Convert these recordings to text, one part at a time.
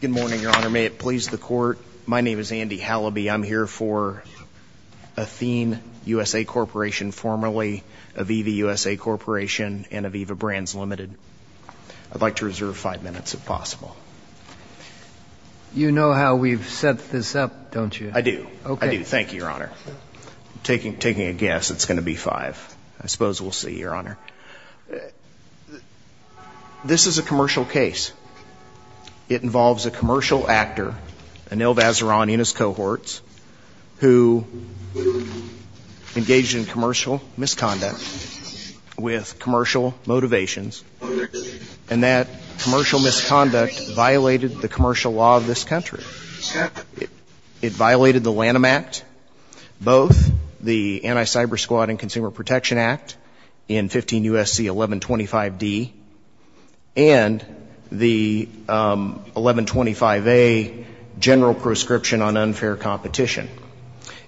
Good morning, your honor. May it please the court. My name is Andy Halaby. I'm here for Athene USA Corporation formerly Aviva USA Corporation and Aviva Brands Limited I'd like to reserve five minutes if possible You know how we've set this up don't you I do okay, thank you your honor Taking taking a guess. It's gonna be five. I suppose. We'll see your honor This Is a commercial case It involves a commercial actor Anil Vazirani in his cohorts who Engaged in commercial misconduct with commercial motivations and that commercial misconduct violated the commercial law of this country It violated the Lanham Act Both the anti-cybersquad and Consumer Protection Act in 15 USC 1125 D and The 1125 a general proscription on unfair competition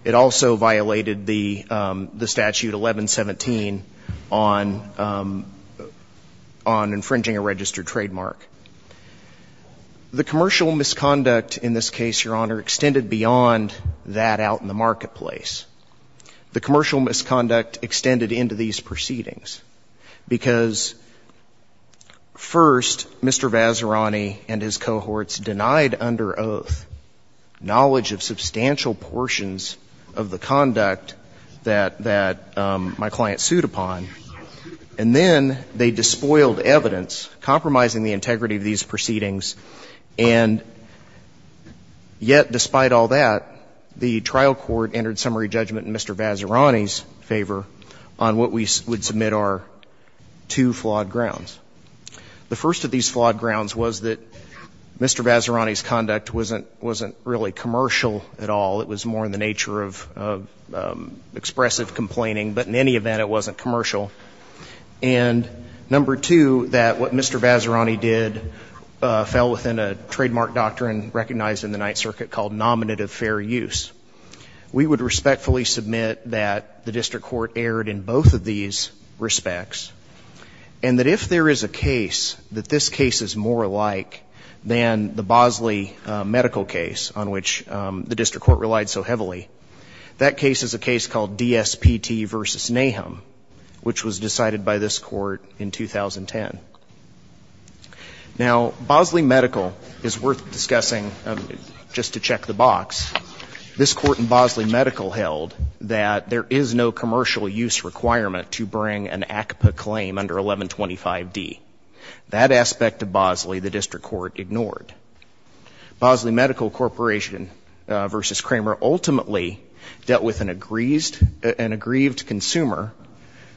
It also violated the the statute 1117 on on infringing a registered trademark The commercial misconduct in this case your honor extended beyond that out in the marketplace the commercial misconduct extended into these proceedings because First mr. Vazirani and his cohorts denied under oath knowledge of substantial portions of the conduct that that my client sued upon and These proceedings and Yet despite all that the trial court entered summary judgment in mr. Vazirani's favor on what we would submit our two flawed grounds The first of these flawed grounds was that mr. Vazirani's conduct wasn't wasn't really commercial at all. It was more in the nature of Expressive complaining but in any event it wasn't commercial and Number two that what mr. Vazirani did Fell within a trademark doctrine recognized in the Ninth Circuit called nominative fair use We would respectfully submit that the district court erred in both of these respects and That if there is a case that this case is more alike than the Bosley Medical case on which the district court relied so heavily that case is a case called DSP T versus Nahum Which was decided by this court in 2010 Now Bosley medical is worth discussing Just to check the box This court in Bosley medical held that there is no commercial use requirement to bring an ACPA claim under 1125 D that aspect of Bosley the district court ignored Bosley medical corporation Versus Kramer ultimately dealt with an aggrieved an aggrieved consumer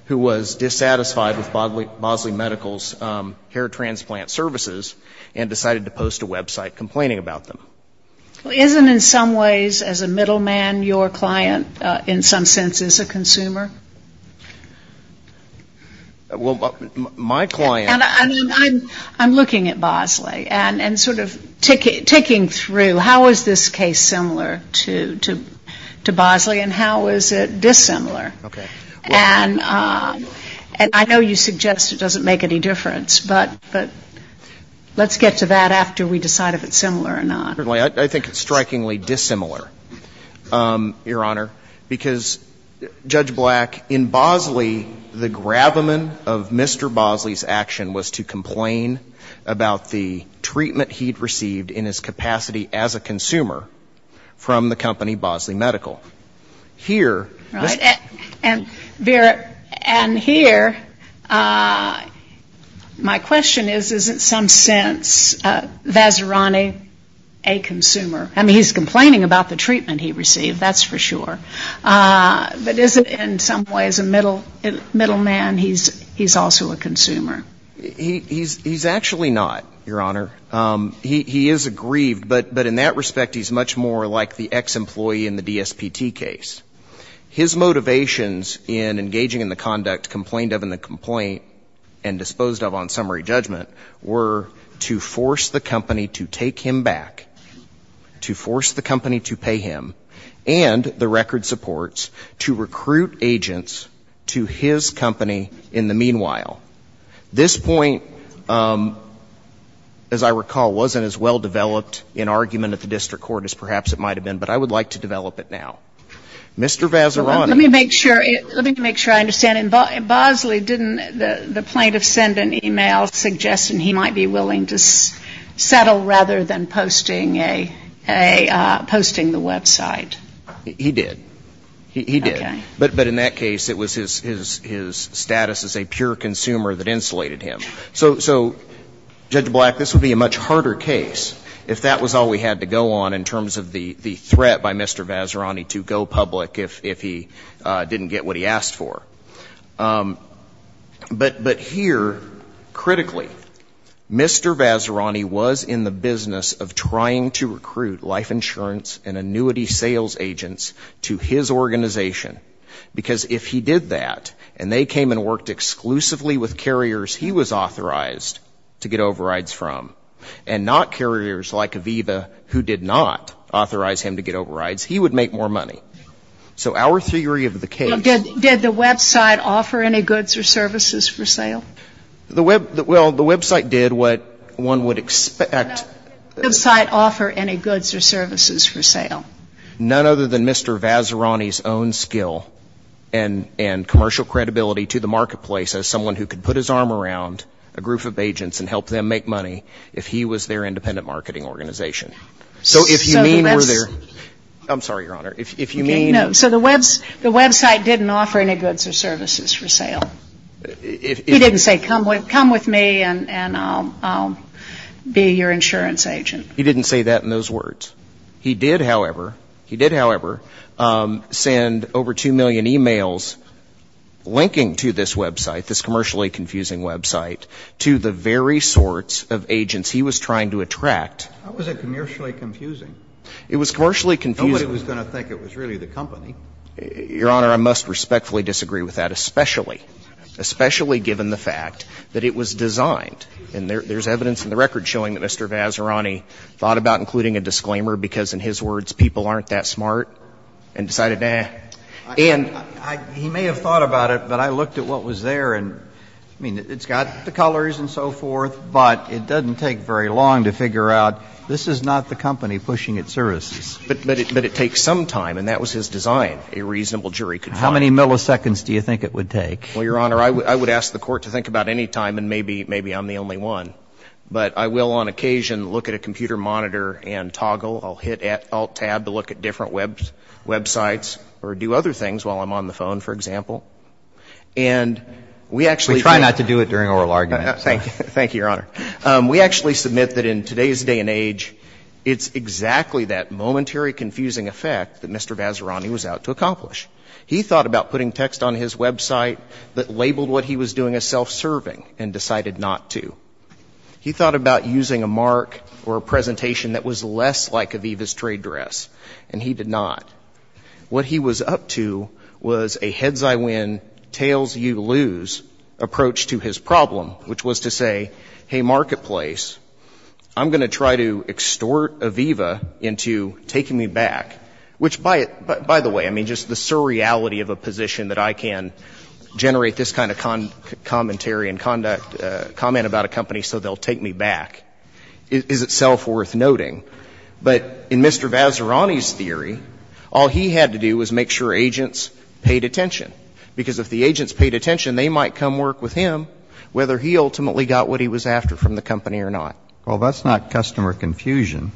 who was dissatisfied with bodily Bosley medicals hair transplant services and decided to post a website complaining about them Isn't in some ways as a middleman your client in some sense is a consumer Well my client I'm looking at Bosley and and sort of ticket ticking through. How is this case similar to? To Bosley and how is it dissimilar? Okay, and and I know you suggest it doesn't make any difference, but but Let's get to that after we decide if it's similar or not. I think it's strikingly dissimilar your honor because Judge black in Bosley the grabber men of mr. Bosley's action was to complain about the treatment. He'd received in his capacity as a consumer from the company Bosley medical here and Vera and here My question is is it some sense Vazirani a Consumer I mean he's complaining about the treatment. He received that's for sure But isn't in some ways a middle middle man. He's he's also a consumer He's he's actually not your honor He is aggrieved, but but in that respect. He's much more like the ex-employee in the DSPT case his motivations in engaging in the conduct complained of in the complaint and Disposed of on summary judgment were to force the company to take him back To force the company to pay him and the record supports to recruit agents to his company in the meanwhile this point As I recall wasn't as well developed in argument at the district court as perhaps it might have been but I would like to develop It now Mr. Vazirani make sure it let me make sure I understand in Bosley didn't the plaintiff send an email suggesting he might be willing to Settle rather than posting a a posting the website He did he did but but in that case it was his his his status as a pure consumer that insulated him so so Judge black this would be a much harder case if that was all we had to go on in terms of the the threat by Mr. Vazirani to go public if if he didn't get what he asked for But but here critically Mr. Vazirani was in the business of trying to recruit life insurance and annuity sales agents to his Organization because if he did that and they came and worked exclusively with carriers He was authorized to get overrides from and not carriers like Aviva who did not Authorize him to get overrides. He would make more money So our theory of the case did the website offer any goods or services for sale? The web that well the website did what one would expect site offer any goods or services for sale none other than mr. Vazirani's own skill and and commercial credibility to the marketplace as someone who could put his arm around a Group of agents and help them make money if he was their independent marketing organization So if you mean we're there, I'm sorry your honor if you mean so the webs the website didn't offer any goods or services for sale If he didn't say come with come with me and and I'll Be your insurance agent. He didn't say that in those words. He did. However, he did however Send over 2 million emails Linking to this website this commercially confusing website to the very sorts of agents He was trying to attract. How was it commercially confusing? It was commercially confusing. It was gonna think it was really the company Your honor I must respectfully disagree with that especially Especially given the fact that it was designed and there's evidence in the record showing that mr Vazirani thought about including a disclaimer because in his words people aren't that smart and decided now And he may have thought about it, but I looked at what was there and I mean it's got the colors and so forth But it doesn't take very long to figure out. This is not the company pushing its services But it takes some time and that was his design a reasonable jury could how many milliseconds do you think it would take well Your honor, I would ask the court to think about any time and maybe maybe I'm the only one But I will on occasion look at a computer monitor and toggle I'll hit at alt tab to look at different webs websites or do other things while I'm on the phone, for example, and We actually try not to do it during oral arguments. Thank you. Thank you, your honor We actually submit that in today's day and age it's exactly that momentary confusing effect that mr Vazirani was out to accomplish He thought about putting text on his website that labeled what he was doing a self-serving and decided not to He thought about using a mark or a presentation that was less like Aviva's trade dress and he did not What he was up to was a heads. I win tails you lose Approach to his problem, which was to say hey marketplace I'm gonna try to extort Aviva into taking me back which by it, but by the way I mean just the surreality of a position that I can Generate this kind of con commentary and conduct comment about a company so they'll take me back Is itself worth noting but in mr Vazirani's theory all he had to do was make sure agents paid attention Because if the agents paid attention they might come work with him whether he ultimately got what he was after from the company or not Well, that's not customer confusion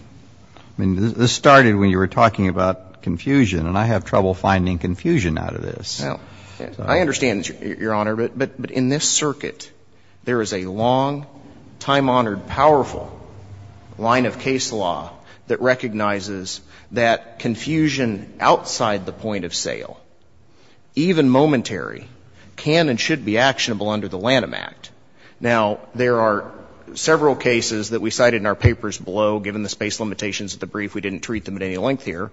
I mean this started when you were talking about confusion and I have trouble finding confusion out of this No, I understand your honor, but but but in this circuit there is a long time honored powerful Line of case law that recognizes that confusion outside the point of sale Even momentary can and should be actionable under the Lanham Act now There are several cases that we cited in our papers below given the space limitations at the brief We didn't treat them at any length here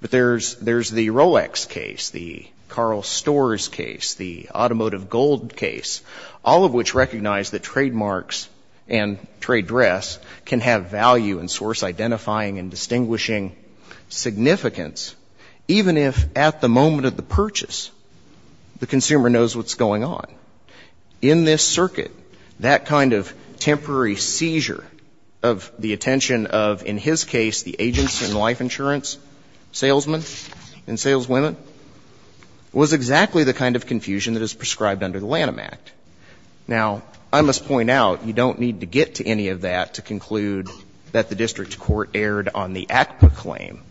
But there's there's the Rolex case the Carl Storrs case the automotive gold case all of which recognize that trademarks and Trade dress can have value and source identifying and distinguishing Significance even if at the moment of the purchase The consumer knows what's going on in this circuit that kind of temporary seizure of The attention of in his case the agency and life insurance salesmen and saleswomen Was exactly the kind of confusion that is prescribed under the Lanham Act Now I must point out you don't need to get to any of that to conclude That the district court erred on the ACPA claim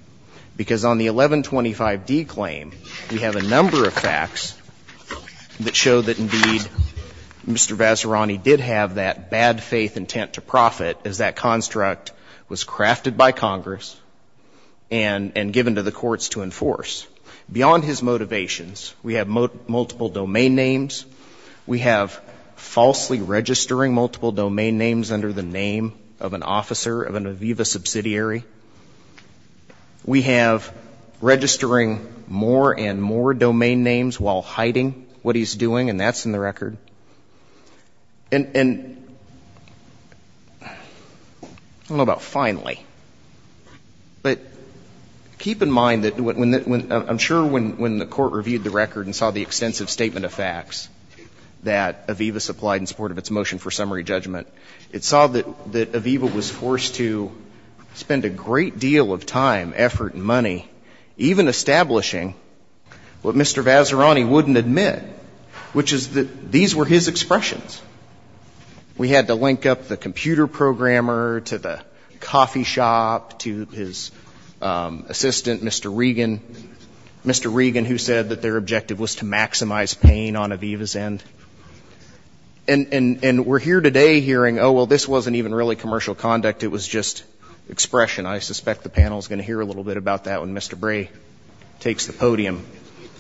because on the 1125 D claim we have a number of facts That show that indeed Mr. Vazirani did have that bad faith intent to profit as that construct was crafted by Congress and And given to the courts to enforce beyond his motivations. We have multiple domain names We have falsely registering multiple domain names under the name of an officer of an Aviva subsidiary We have registering more and more domain names while hiding what he's doing and that's in the record and What about finally but Keep in mind that when I'm sure when when the court reviewed the record and saw the extensive statement of facts That Aviva supplied in support of its motion for summary judgment. It saw that that Aviva was forced to Spend a great deal of time effort and money even establishing What mr. Vazirani wouldn't admit which is that these were his expressions? We had to link up the computer programmer to the coffee shop to his assistant, mr. Regan Mr. Regan who said that their objective was to maximize pain on Aviva's end and And and we're here today hearing. Oh, well, this wasn't even really commercial conduct. It was just Expression I suspect the panel is going to hear a little bit about that when mr. Bray Takes the podium,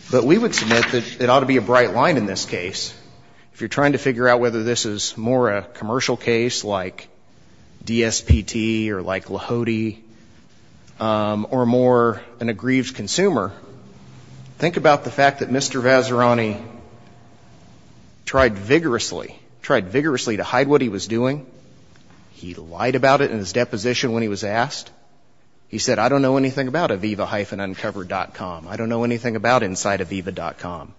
but we would submit that it ought to be a bright line in this case if you're trying to figure out whether this is more a commercial case like DSPT or like Lahode Or more an aggrieved consumer think about the fact that mr. Vazirani Tried vigorously tried vigorously to hide what he was doing He lied about it in his deposition when he was asked He said I don't know anything about Aviva hyphen uncovered comm I don't know anything about inside of Aviva comm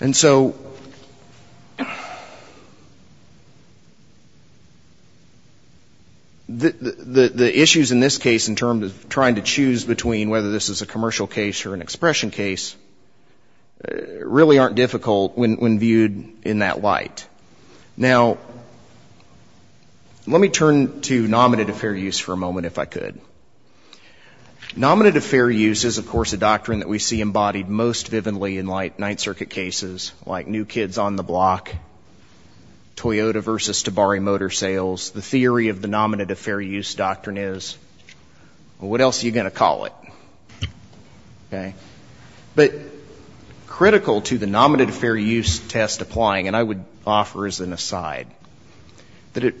and so The Issues in this case in terms of trying to choose between whether this is a commercial case or an expression case Really aren't difficult when viewed in that light now Let me turn to nominate a fair use for a moment if I could Nominate a fair use is of course a doctrine that we see embodied most vividly in light Ninth Circuit cases like new kids on the block Toyota versus to Bari motor sales the theory of the nominate a fair use doctrine is what else are you gonna call it? Okay, but Critical to the nominate a fair use test applying and I would offer as an aside that it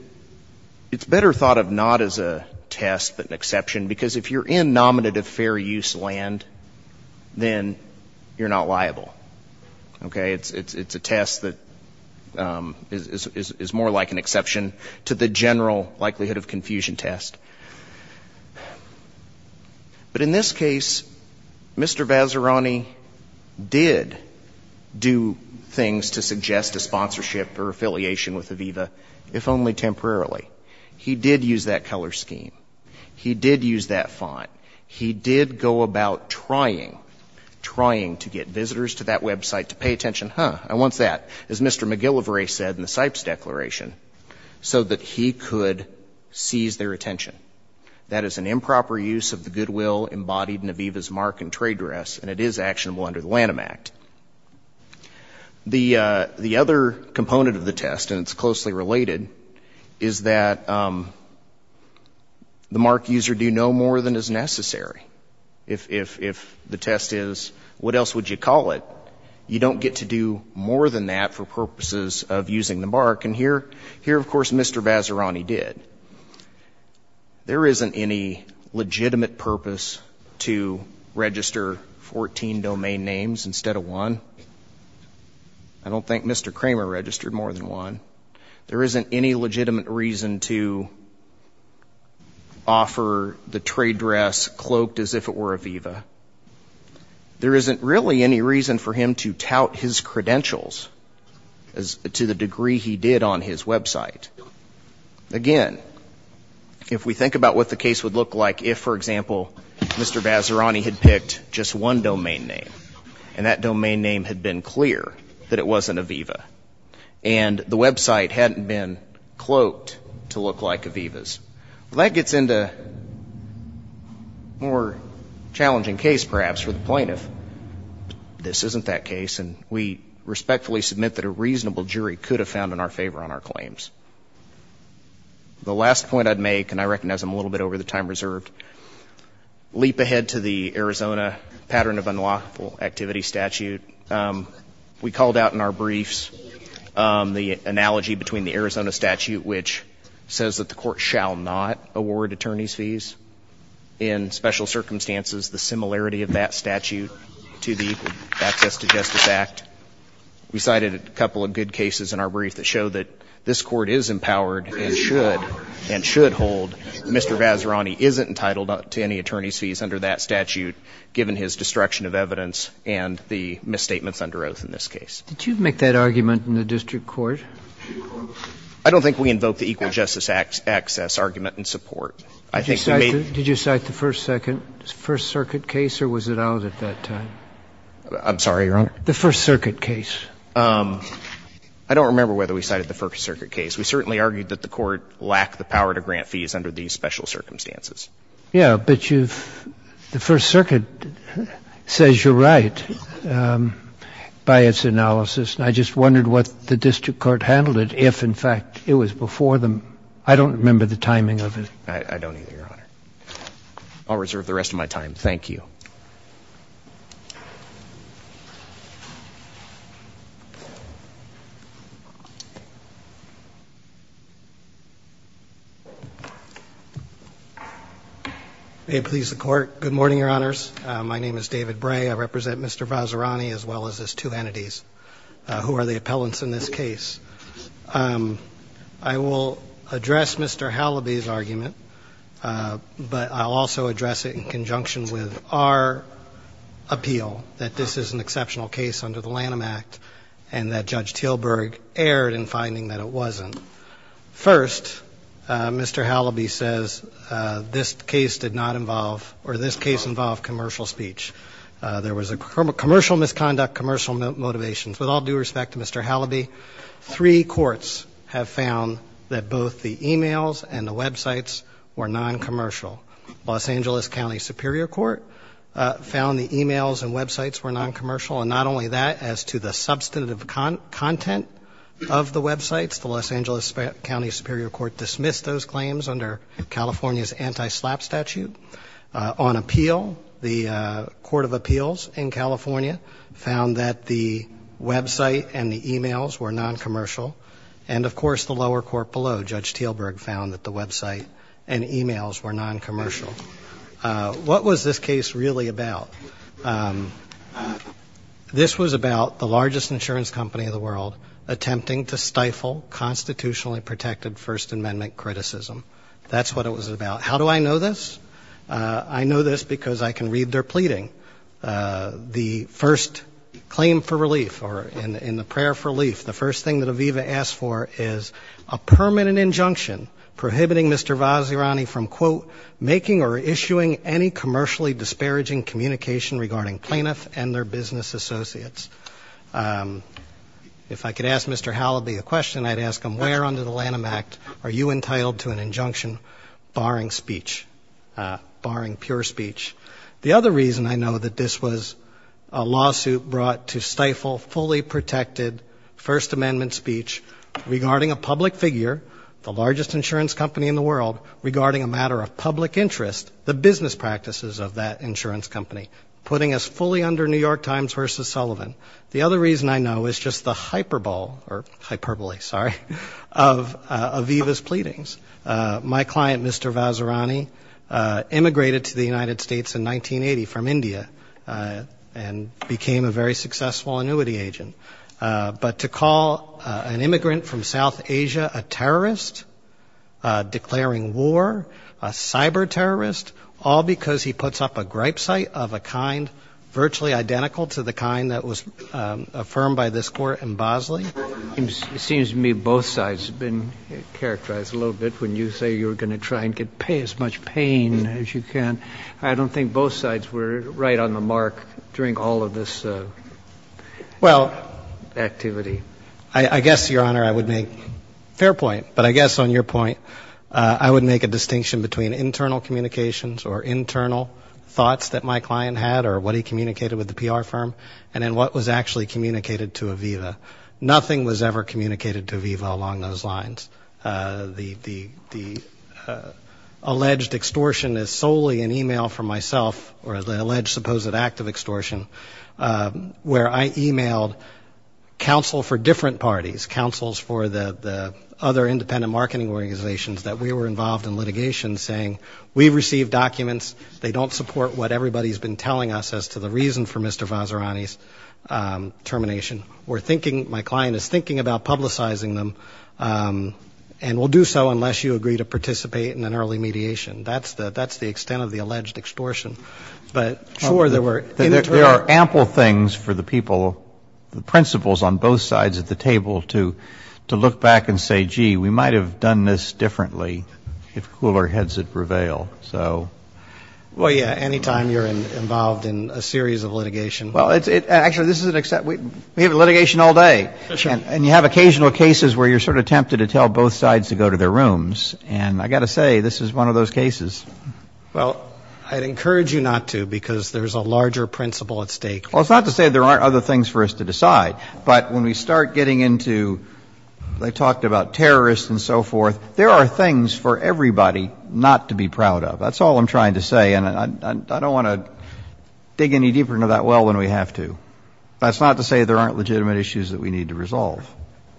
It's better thought of not as a test but an exception because if you're in nominative fair use land Then you're not liable Okay, it's it's it's a test that Is is more like an exception to the general likelihood of confusion test? But in this case Mr. Vazirani did Do things to suggest a sponsorship or affiliation with Aviva if only temporarily He did use that color scheme. He did use that font. He did go about trying Trying to get visitors to that website to pay attention, huh? I wants that as mr. McGillivray said in the Sipes declaration So that he could Seize their attention. That is an improper use of the goodwill embodied in Aviva's mark and trade dress and it is actionable under the Lanham Act The the other component of the test and it's closely related is that The mark user do no more than is necessary if If the test is what else would you call it? You don't get to do more than that for purposes of using the bark and here here. Of course, mr. Vazirani did There isn't any legitimate purpose to register 14 domain names instead of one I Don't think mr. Kramer registered more than one. There isn't any legitimate reason to Offer the trade dress cloaked as if it were Aviva There isn't really any reason for him to tout his credentials as to the degree he did on his website again If we think about what the case would look like if for example, mr Vazirani had picked just one domain name and that domain name had been clear that it wasn't Aviva and The website hadn't been cloaked to look like Aviva's that gets into More challenging case perhaps for the plaintiff This isn't that case and we respectfully submit that a reasonable jury could have found in our favor on our claims The last point I'd make and I recognize I'm a little bit over the time reserved Leap ahead to the Arizona pattern of unlawful activity statute We called out in our briefs the analogy between the Arizona statute which says that the court shall not award attorneys fees in Special circumstances the similarity of that statute to the access to Justice Act We cited a couple of good cases in our brief that show that this court is empowered and should and should hold Mr. Vazirani isn't entitled to any attorneys fees under that statute Given his destruction of evidence and the misstatements under oath in this case. Did you make that argument in the district court? I Don't think we invoke the equal justice acts access argument and support I think you may did you cite the first second first circuit case or was it out at that time? I'm sorry, your honor the First Circuit case. I Don't remember whether we cited the First Circuit case We certainly argued that the court lacked the power to grant fees under these special circumstances. Yeah, but you've the First Circuit Says you're right By its analysis and I just wondered what the district court handled it if in fact it was before them I don't remember the timing of it I'll reserve the rest of my time. Thank you They Please the court. Good morning, Your Honors. My name is David Bray. I represent. Mr. Vazirani as well as as two entities Who are the appellants in this case? I will address. Mr. Halleby's argument But I'll also address it in conjunction with our Appeal that this is an exceptional case under the Lanham Act and that judge Tilburg erred in finding that it wasn't First Mr. Halleby says This case did not involve or this case involved commercial speech There was a commercial misconduct commercial motivations with all due respect to mr Halleby three courts have found that both the emails and the websites were non-commercial Los Angeles County Superior Court Found the emails and websites were non-commercial and not only that as to the substantive Content of the websites the Los Angeles County Superior Court dismissed those claims under California's anti-slap statute on appeal the court of appeals in California found that the Website and the emails were non-commercial and of course the lower court below judge Tilburg found that the website and emails were non-commercial What was this case really about? This was about the largest insurance company of the world attempting to stifle Constitutionally protected First Amendment criticism. That's what it was about. How do I know this? I know this because I can read their pleading the first claim for relief or in the prayer for relief the first thing that Aviva asked for is a Permanent injunction prohibiting. Mr. Vazirani from quote making or issuing any commercially disparaging Communication regarding plaintiff and their business associates If I could ask mr. Halleby a question I'd ask him where under the Lanham Act are you entitled to an injunction barring speech? Barring pure speech the other reason I know that this was a lawsuit brought to stifle fully protected First Amendment speech regarding a public figure the largest insurance company in the world Regarding a matter of public interest the business practices of that insurance company putting us fully under New York Times versus Sullivan The other reason I know is just the hyperbole or hyperbole. Sorry of Aviva's pleadings my client. Mr. Vazirani immigrated to the United States in 1980 from India and Became a very successful annuity agent, but to call an immigrant from South Asia a terrorist Declaring war a cyber terrorist all because he puts up a gripe site of a kind Virtually identical to the kind that was Affirmed by this court in Bosley. It seems to me both sides been Characterized a little bit when you say you're gonna try and get pay as much pain as you can I don't think both sides were right on the mark during all of this well Activity I guess your honor I would make fair point, but I guess on your point I would make a distinction between internal communications or internal Thoughts that my client had or what he communicated with the PR firm and then what was actually communicated to Aviva Nothing was ever communicated to Aviva along those lines the Alleged extortion is solely an email from myself or the alleged supposed act of extortion Where I emailed counsel for different parties councils for the Other independent marketing organizations that we were involved in litigation saying we've received documents They don't support what everybody's been telling us as to the reason for mr. Vazirani's Termination we're thinking my client is thinking about publicizing them And we'll do so unless you agree to participate in an early mediation. That's the that's the extent of the alleged extortion But sure there were there are ample things for the people The principles on both sides at the table to to look back and say gee we might have done this differently if cooler heads that prevail, so Well, yeah, anytime you're involved in a series of litigation. Well, it's it actually this is an except We have a litigation all day Sure and you have occasional cases where you're sort of tempted to tell both sides to go to their rooms and I got to say This is one of those cases Well, I'd encourage you not to because there's a larger principle at stake Well, it's not to say there aren't other things for us to decide but when we start getting into They talked about terrorists and so forth. There are things for everybody not to be proud of that's all I'm trying to say and I don't want to Dig any deeper into that. Well when we have to that's not to say there aren't legitimate issues that we need to resolve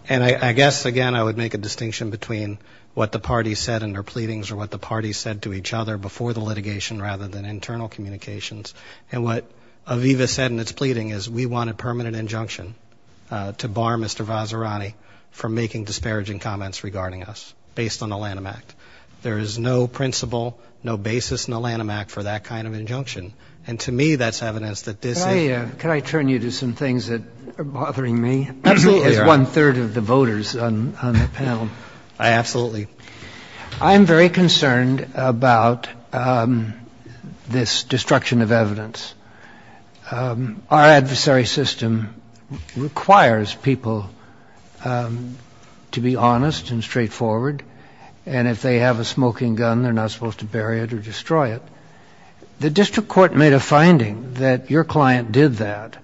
And I guess again I would make a distinction between What the party said in their pleadings or what the party said to each other before the litigation rather than internal communications? And what Aviva said in its pleading is we wanted permanent injunction To bar. Mr. Vazirani from making disparaging comments regarding us based on the Lanham Act There is no principle no basis in the Lanham Act for that kind of injunction and to me that's evidence that this is Can I turn you to some things that are bothering me absolutely as one-third of the voters on the panel, I absolutely I'm very concerned about This destruction of evidence our adversary system requires people To be honest and straightforward and if they have a smoking gun, they're not supposed to bury it or destroy it The district court made a finding that your client did that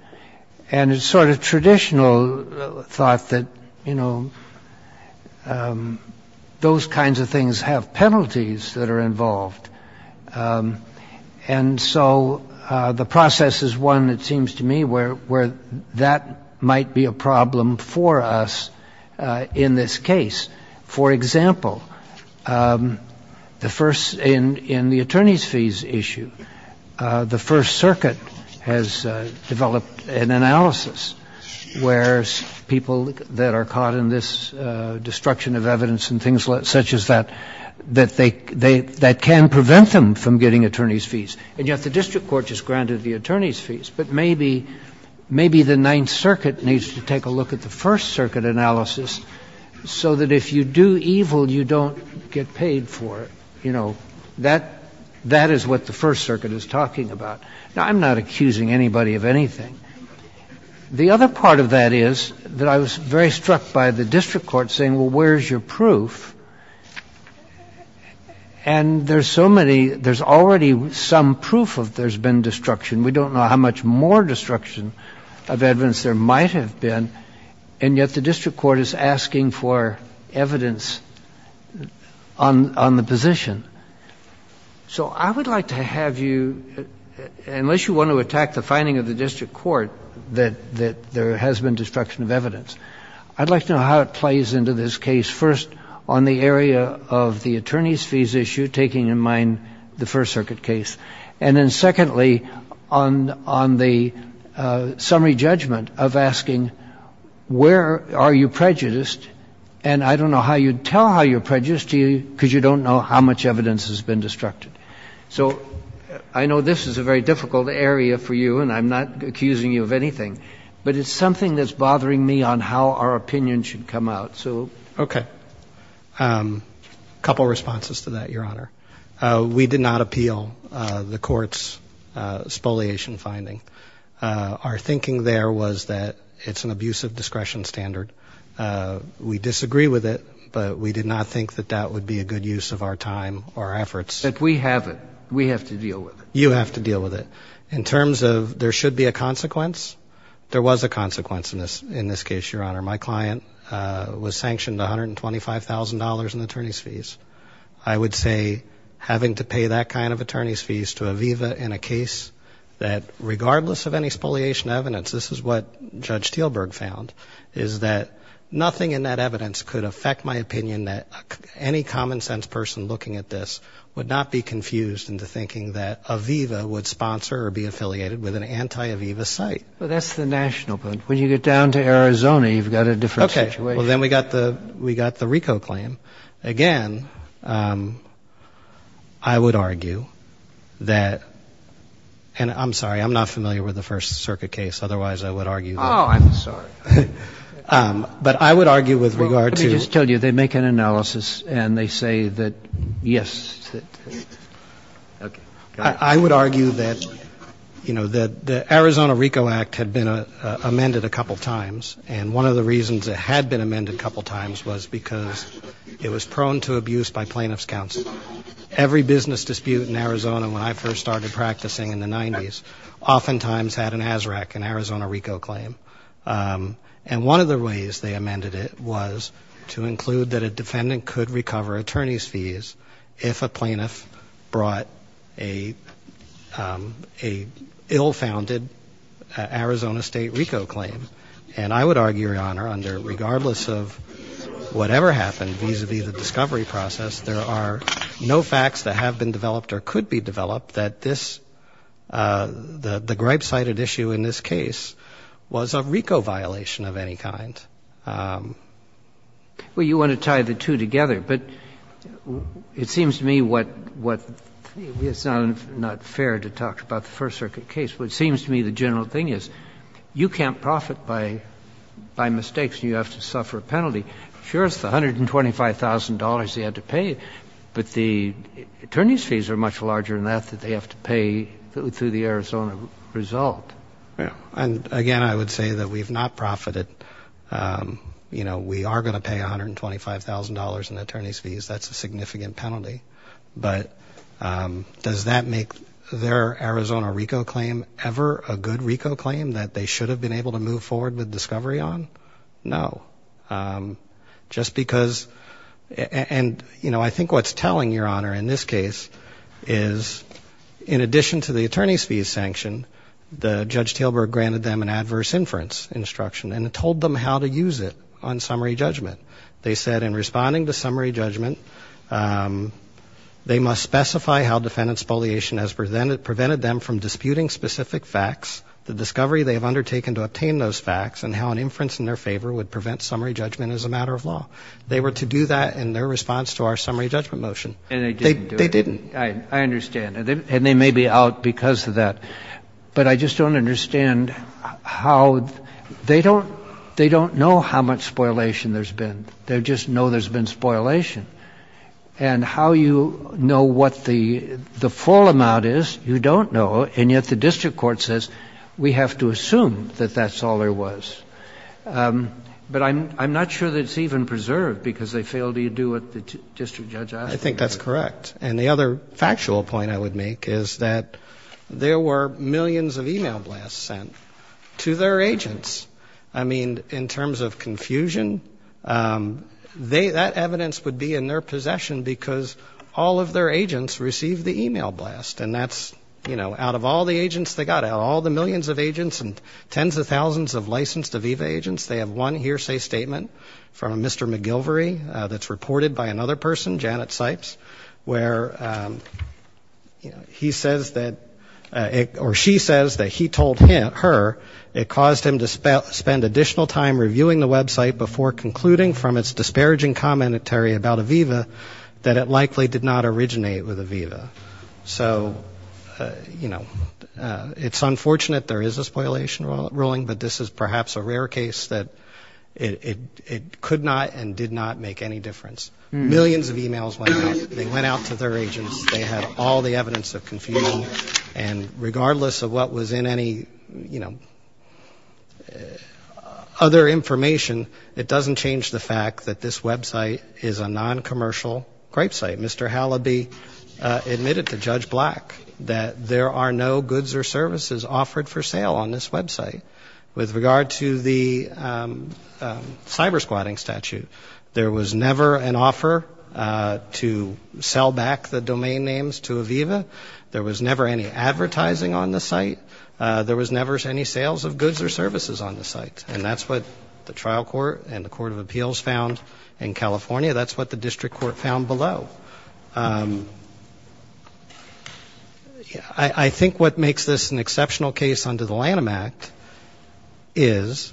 and it's sort of traditional thought that you know Those kinds of things have penalties that are involved and so The process is one that seems to me where where that might be a problem for us in this case, for example The first in in the attorneys fees issue the First Circuit has developed an analysis where people that are caught in this destruction of evidence and things like such as that That they they that can prevent them from getting attorneys fees and yet the district court just granted the attorneys fees But maybe maybe the Ninth Circuit needs to take a look at the First Circuit analysis So that if you do evil, you don't get paid for it, you know that that is what the First Circuit is talking about Now, I'm not accusing anybody of anything The other part of that is that I was very struck by the district court saying well, where's your proof? and There's so many there's already some proof of there's been destruction we don't know how much more destruction of evidence there might have been and yet the district court is asking for evidence on on the position So I would like to have you Unless you want to attack the finding of the district court that that there has been destruction of evidence I'd like to know how it plays into this case first on the area of the attorneys fees issue taking in mind The First Circuit case and then secondly on on the summary judgment of asking Where are you prejudiced and I don't know how you'd tell how you're prejudiced to you because you don't know how much evidence has been Destructed so I know this is a very difficult area for you, and I'm not accusing you of anything But it's something that's bothering me on how our opinion should come out. So okay A couple responses to that your honor. We did not appeal the court's spoliation finding Our thinking there was that it's an abusive discretion standard We disagree with it But we did not think that that would be a good use of our time or efforts that we have it We have to deal with it. You have to deal with it in terms of there should be a consequence There was a consequence in this in this case your honor. My client Was sanctioned $125,000 in attorneys fees I would say having to pay that kind of attorneys fees to Aviva in a case that Regardless of any spoliation evidence. This is what judge Stilberg found Is that nothing in that evidence could affect my opinion that any common-sense person looking at this? Would not be confused into thinking that Aviva would sponsor or be affiliated with an anti Aviva site That's the national point when you get down to Arizona, you've got a different okay. Well, then we got the we got the RICO claim again I Would argue that And I'm sorry, I'm not familiar with the First Circuit case. Otherwise, I would argue. Oh, I'm sorry But I would argue with regard to just tell you they make an analysis and they say that yes Okay, I would argue that You know that the Arizona RICO Act had been amended a couple times And one of the reasons it had been amended a couple times was because it was prone to abuse by plaintiffs counsel Every business dispute in Arizona when I first started practicing in the 90s Oftentimes had an ASRAC in Arizona RICO claim and one of the ways they amended it was To include that a defendant could recover attorney's fees if a plaintiff brought a a ill-founded Arizona State RICO claim and I would argue your honor under regardless of Whatever happened vis-a-vis the discovery process. There are no facts that have been developed or could be developed that this The the gripe cited issue in this case was a RICO violation of any kind Well, you want to tie the two together but It seems to me what what? It's not not fair to talk about the First Circuit case. What seems to me the general thing is you can't profit by By mistakes you have to suffer a penalty. Sure. It's the hundred and twenty-five thousand dollars. They had to pay but the Attorney's fees are much larger than that that they have to pay through the Arizona result Yeah, and again, I would say that we've not profited You know, we are going to pay a hundred and twenty-five thousand dollars in attorney's fees that's a significant penalty but Does that make their Arizona RICO claim ever a good RICO claim that they should have been able to move forward with discovery on? No just because and you know, I think what's telling your honor in this case is In addition to the attorney's fees sanction the judge Taylor granted them an adverse inference Instruction and it told them how to use it on summary judgment. They said in responding to summary judgment They must specify how defendants poliation has presented prevented them from disputing specific facts the discovery They have undertaken to obtain those facts and how an inference in their favor would prevent summary judgment as a matter of law They were to do that in their response to our summary judgment motion, and they didn't they didn't I understand And they may be out because of that But I just don't understand how they don't they don't know how much spoilation there's been they just know there's been spoilation and how you know what the The full amount is you don't know and yet the district court says we have to assume that that's all there was But I'm I'm not sure that it's even preserved because they failed to you do what the district judge I think that's correct And the other factual point I would make is that There were millions of email blasts sent to their agents. I mean in terms of confusion They that evidence would be in their possession because all of their agents received the email blast and that's you know out of all the agents They got out all the millions of agents and tens of thousands of licensed Aviva agents. They have one hearsay statement from mr McGilvory that's reported by another person Janet Sipes where You know, he says that it or she says that he told him her it caused him to spell spend additional time Reviewing the website before concluding from its disparaging commentary about Aviva that it likely did not originate with Aviva so You know It's unfortunate. There is a spoilation ruling, but this is perhaps a rare case that It it could not and did not make any difference millions of emails They went out to their agents. They had all the evidence of confusion and Regardless of what was in any you know Other information it doesn't change the fact that this website is a non-commercial Grapesite mr. Halliby admitted to judge black that there are no goods or services offered for sale on this website with regard to the Cyber squatting statute there was never an offer To sell back the domain names to Aviva. There was never any advertising on the site There was never any sales of goods or services on the site And that's what the trial court and the Court of Appeals found in California. That's what the district court found below Yeah, I think what makes this an exceptional case under the Lanham Act is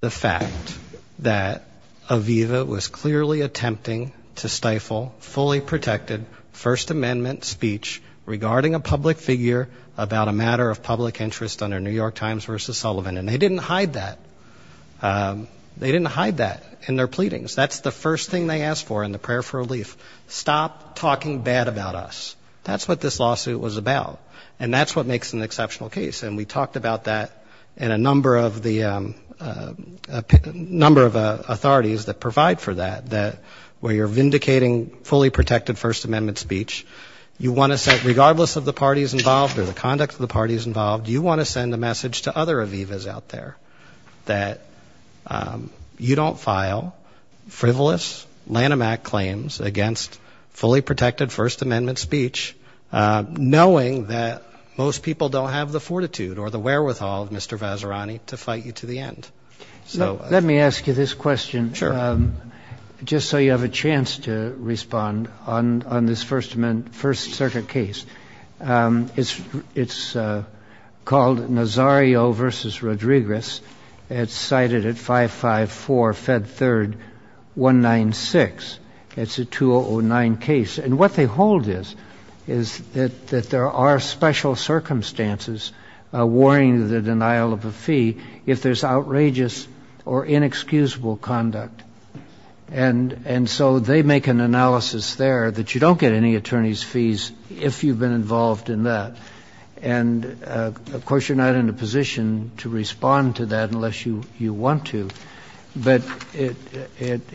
The fact that Aviva was clearly attempting to stifle fully protected First Amendment speech Regarding a public figure about a matter of public interest under New York Times versus Sullivan, and they didn't hide that They didn't hide that in their pleadings. That's the first thing they asked for in the prayer for relief Stop talking bad about us that's what this lawsuit was about and that's what makes an exceptional case and we talked about that and a number of the a Number of authorities that provide for that that where you're vindicating fully protected First Amendment speech You want to set regardless of the parties involved or the conduct of the parties involved? You want to send a message to other Aviva's out there that? You don't file frivolous Lanham Act claims against fully protected First Amendment speech Knowing that most people don't have the fortitude or the wherewithal of mr. Vazirani to fight you to the end So let me ask you this question. Sure Just so you have a chance to respond on on this First Amendment First Circuit case it's it's Called Nazario versus Rodriguez. It's cited at five five four fed third 196 it's a 2009 case and what they hold is is that that there are special circumstances Worrying the denial of a fee if there's outrageous or inexcusable conduct and and so they make an analysis there that you don't get any attorney's fees if you've been involved in that and Of course, you're not in a position to respond to that unless you you want to but it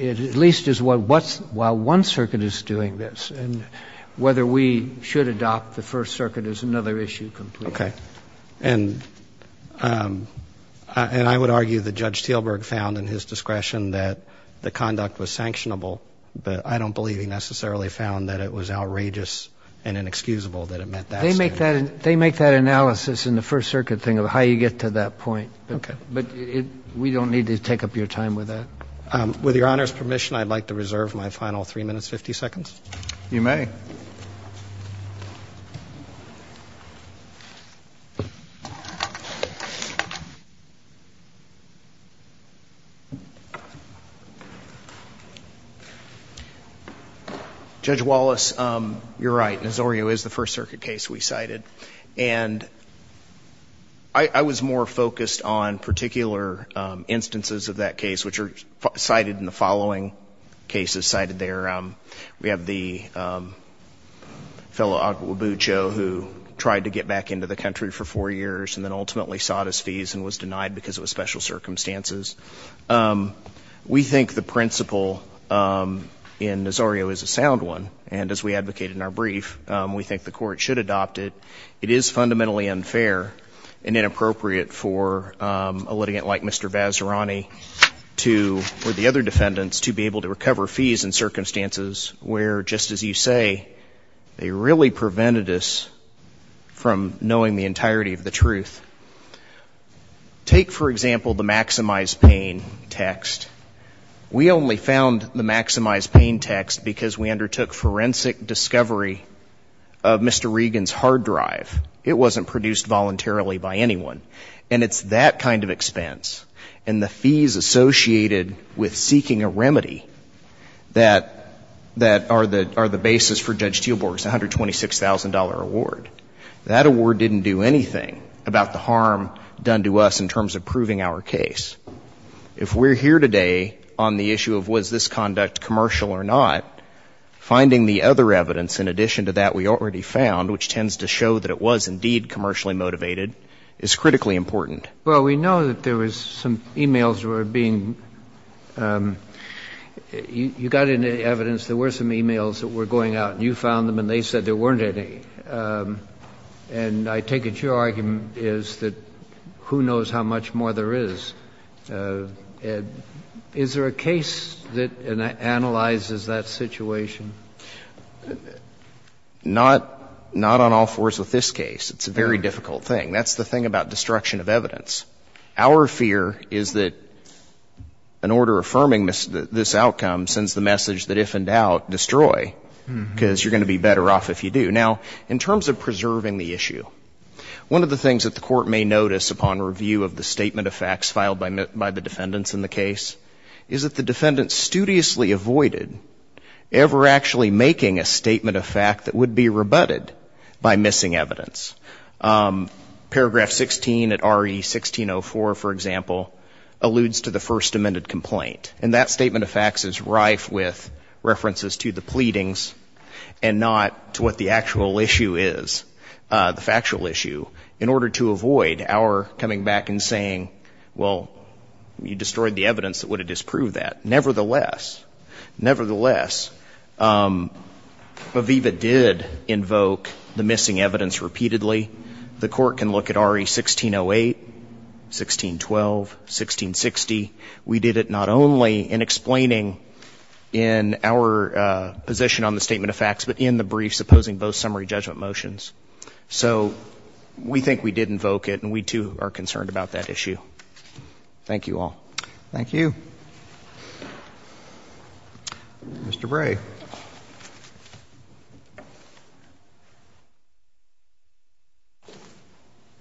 At least is what what's while one circuit is doing this and whether we should adopt the First Circuit is another issue okay, and And I would argue the judge Thielberg found in his discretion that the conduct was sanctionable But I don't believe he necessarily found that it was outrageous and inexcusable that it meant that they make that They make that analysis in the First Circuit thing of how you get to that point Okay, but we don't need to take up your time with that with your honor's permission I'd like to reserve my final three minutes 50 seconds you may Judge Wallace you're right. Nazario is the First Circuit case we cited and I Was more focused on particular Instances of that case which are cited in the following cases cited there. We have the Fellow Agua Bucho who tried to get back into the country for four years and then ultimately sought his fees and was denied because it was special circumstances We think the principle In Nazario is a sound one. And as we advocated in our brief, we think the court should adopt it It is fundamentally unfair and inappropriate for a litigant like mr Vazirani to or the other defendants to be able to recover fees and circumstances where just as you say They really prevented us from knowing the entirety of the truth Take for example the maximize pain text We only found the maximize pain text because we undertook forensic discovery of Mr. Regan's hard drive It wasn't produced voluntarily by anyone and it's that kind of expense and the fees associated with seeking a remedy that That are the are the basis for Judge Teelborg's $126,000 award that award didn't do anything about the harm done to us in terms of proving our case If we're here today on the issue of was this conduct commercial or not? Finding the other evidence in addition to that we already found which tends to show that it was indeed commercially motivated is critically important Well, we know that there was some emails were being You Got any evidence there were some emails that were going out and you found them and they said there weren't any and I take it your argument is that who knows how much more there is And is there a case that analyzes that situation? Not not on all fours with this case, it's a very difficult thing. That's the thing about destruction of evidence our fear is that An order affirming miss this outcome sends the message that if in doubt destroy Because you're going to be better off if you do now in terms of preserving the issue One of the things that the court may notice upon review of the statement of facts filed by met by the defendants in the case Is that the defendant studiously avoided? Ever actually making a statement of fact that would be rebutted by missing evidence Paragraph 16 at re 1604 for example alludes to the first amended complaint and that statement of facts is rife with References to the pleadings and not to what the actual issue is the factual issue in order to avoid our coming back and saying well You destroyed the evidence that would have disproved that nevertheless nevertheless Aviva did invoke the missing evidence repeatedly the court can look at re 1608 1612 1660 we did it not only in explaining in our position on the statement of facts, but in the brief supposing both summary judgment motions, so We think we did invoke it and we too are concerned about that issue Thank you all. Thank you Mr. Bray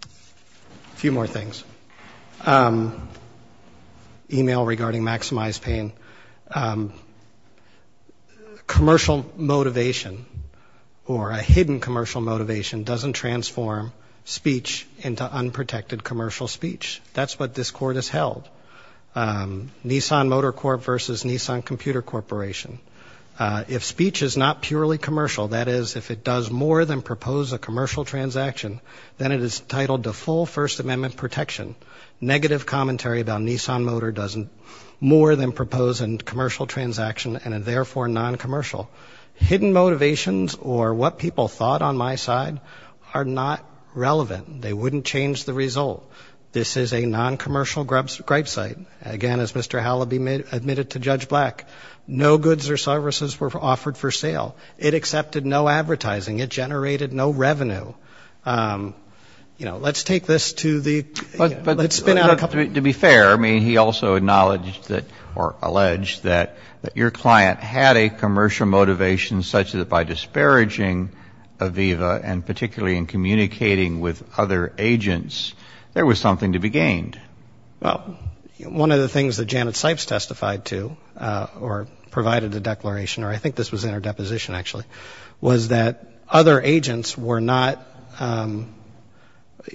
A few more things Email regarding maximize pain Commercial motivation or a hidden commercial motivation doesn't transform speech into Unprotected commercial speech. That's what this court has held Nissan Motor Corp versus Nissan Computer Corporation If speech is not purely commercial that is if it does more than propose a commercial transaction Then it is titled the full First Amendment protection Negative commentary about Nissan Motor doesn't more than propose and commercial transaction and therefore non-commercial Hidden motivations or what people thought on my side are not relevant. They wouldn't change the result This is a non-commercial grubs great site again as mr Halleby made admitted to judge black no goods or services were offered for sale. It accepted no advertising it generated no revenue You know, let's take this to the but let's spin out a couple to be fair I mean he also acknowledged that or alleged that that your client had a commercial motivation such that by disparaging Aviva and particularly in communicating with other agents, there was something to be gained well, one of the things that Janet Sipes testified to or Provided a declaration or I think this was in her deposition actually was that other agents were not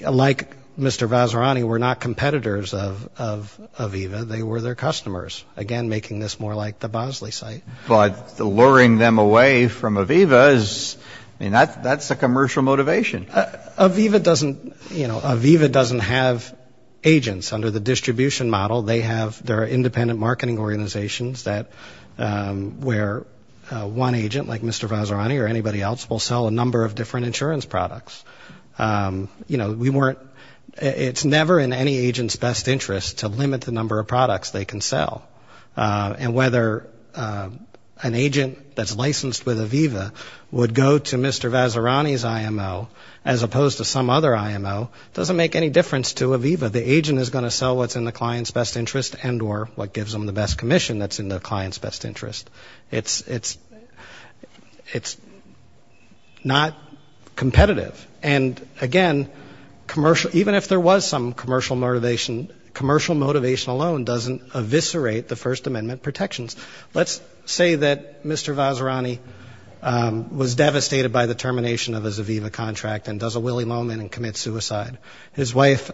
Like mr. Vazirani were not competitors of Aviva they were their customers again making this more like the Bosley site, but the luring them away from Aviva's And that's that's a commercial motivation Aviva doesn't you know Aviva doesn't have Agents under the distribution model. They have their independent marketing organizations that Where one agent like mr. Vazirani or anybody else will sell a number of different insurance products You know, we weren't it's never in any agents best interest to limit the number of products they can sell and whether An agent that's licensed with Aviva would go to mr Vazirani's IMO as opposed to some other IMO doesn't make any difference to Aviva The agent is going to sell what's in the client's best interest and or what gives them the best Commission that's in the client's best interest it's it's it's not competitive and again Commercial even if there was some commercial motivation commercial motivation alone doesn't eviscerate the First Amendment protections Let's say that mr. Vazirani Was devastated by the termination of his Aviva contract and does a willy-moly and commit suicide his wife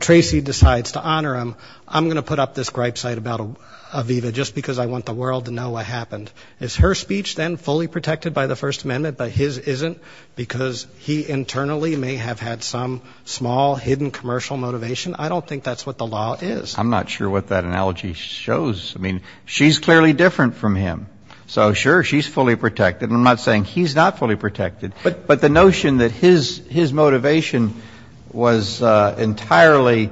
Tracy decides to honor him I'm gonna put up this gripe site about Aviva just because I want the world to know what happened It's her speech then fully protected by the First Amendment But his isn't because he internally may have had some small hidden commercial motivation. I don't think that's what the law is I'm not sure what that analogy shows. I mean, she's clearly different from him. So sure. She's fully protected I'm not saying he's not fully protected. But but the notion that his his motivation was entirely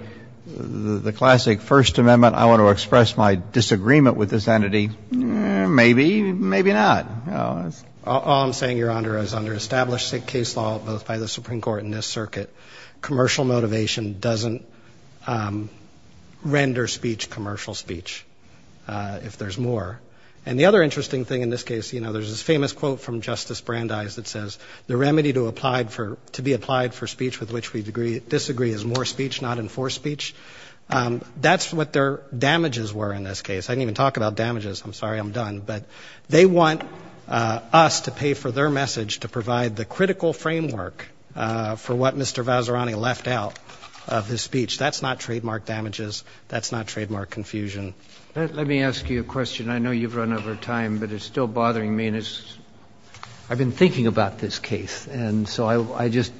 The classic First Amendment. I want to express my disagreement with this entity Maybe maybe not All I'm saying your honor is under established state case law both by the Supreme Court in this circuit commercial motivation doesn't Render speech commercial speech If there's more and the other interesting thing in this case, you know There's this famous quote from Justice Brandeis that says the remedy to applied for to be applied for speech with which we degree Disagree is more speech not enforced speech That's what their damages were in this case. I didn't even talk about damages. I'm sorry. I'm done, but they want Us to pay for their message to provide the critical framework For what? Mr. Vazirani left out of his speech. That's not trademark damages. That's not trademark confusion Let me ask you a question. I know you've run over time, but it's still bothering me and it's I've been thinking about this case. And so I just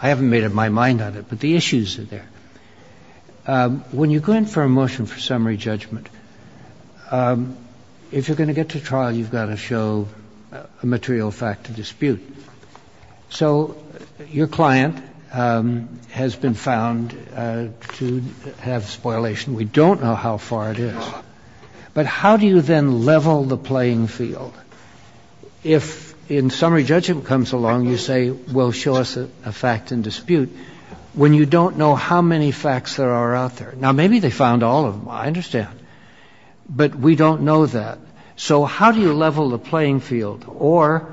I haven't made up my mind on it, but the issues are there When you go in for a motion for summary judgment If you're going to get to trial you've got to show a material fact to dispute So your client Has been found To have spoilation. We don't know how far it is But how do you then level the playing field? If in summary judgment comes along you say we'll show us a fact and dispute When you don't know how many facts there are out there now, maybe they found all of them. I understand but we don't know that so, how do you level the playing field or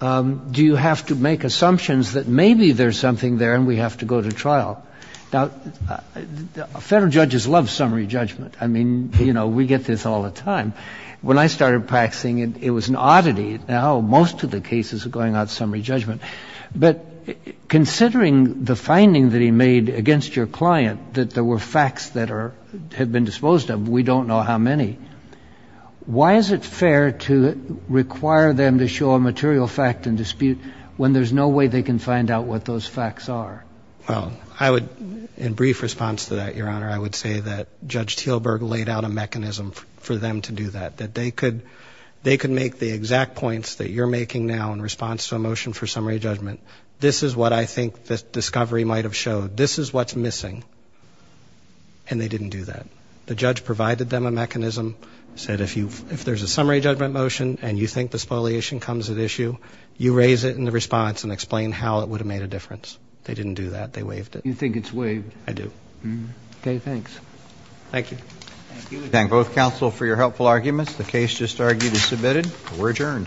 Do you have to make assumptions that maybe there's something there and we have to go to trial now Federal judges love summary judgment I mean, you know We get this all the time when I started practicing and it was an oddity now most of the cases are going out summary judgment but Considering the finding that he made against your client that there were facts that are have been disposed of. We don't know how many Why is it fair to? Require them to show a material fact and dispute when there's no way they can find out what those facts are Well, I would in brief response to that your honor I would say that judge Tealburg laid out a mechanism for them to do that that they could They could make the exact points that you're making now in response to a motion for summary judgment This is what I think this discovery might have showed. This is what's missing and You think the spoliation comes at issue you raise it in the response and explain how it would have made a difference They didn't do that. They waived it. You think it's waived. I do Okay. Thanks. Thank you Thank both counsel for your helpful arguments. The case just argued is submitted. We're adjourned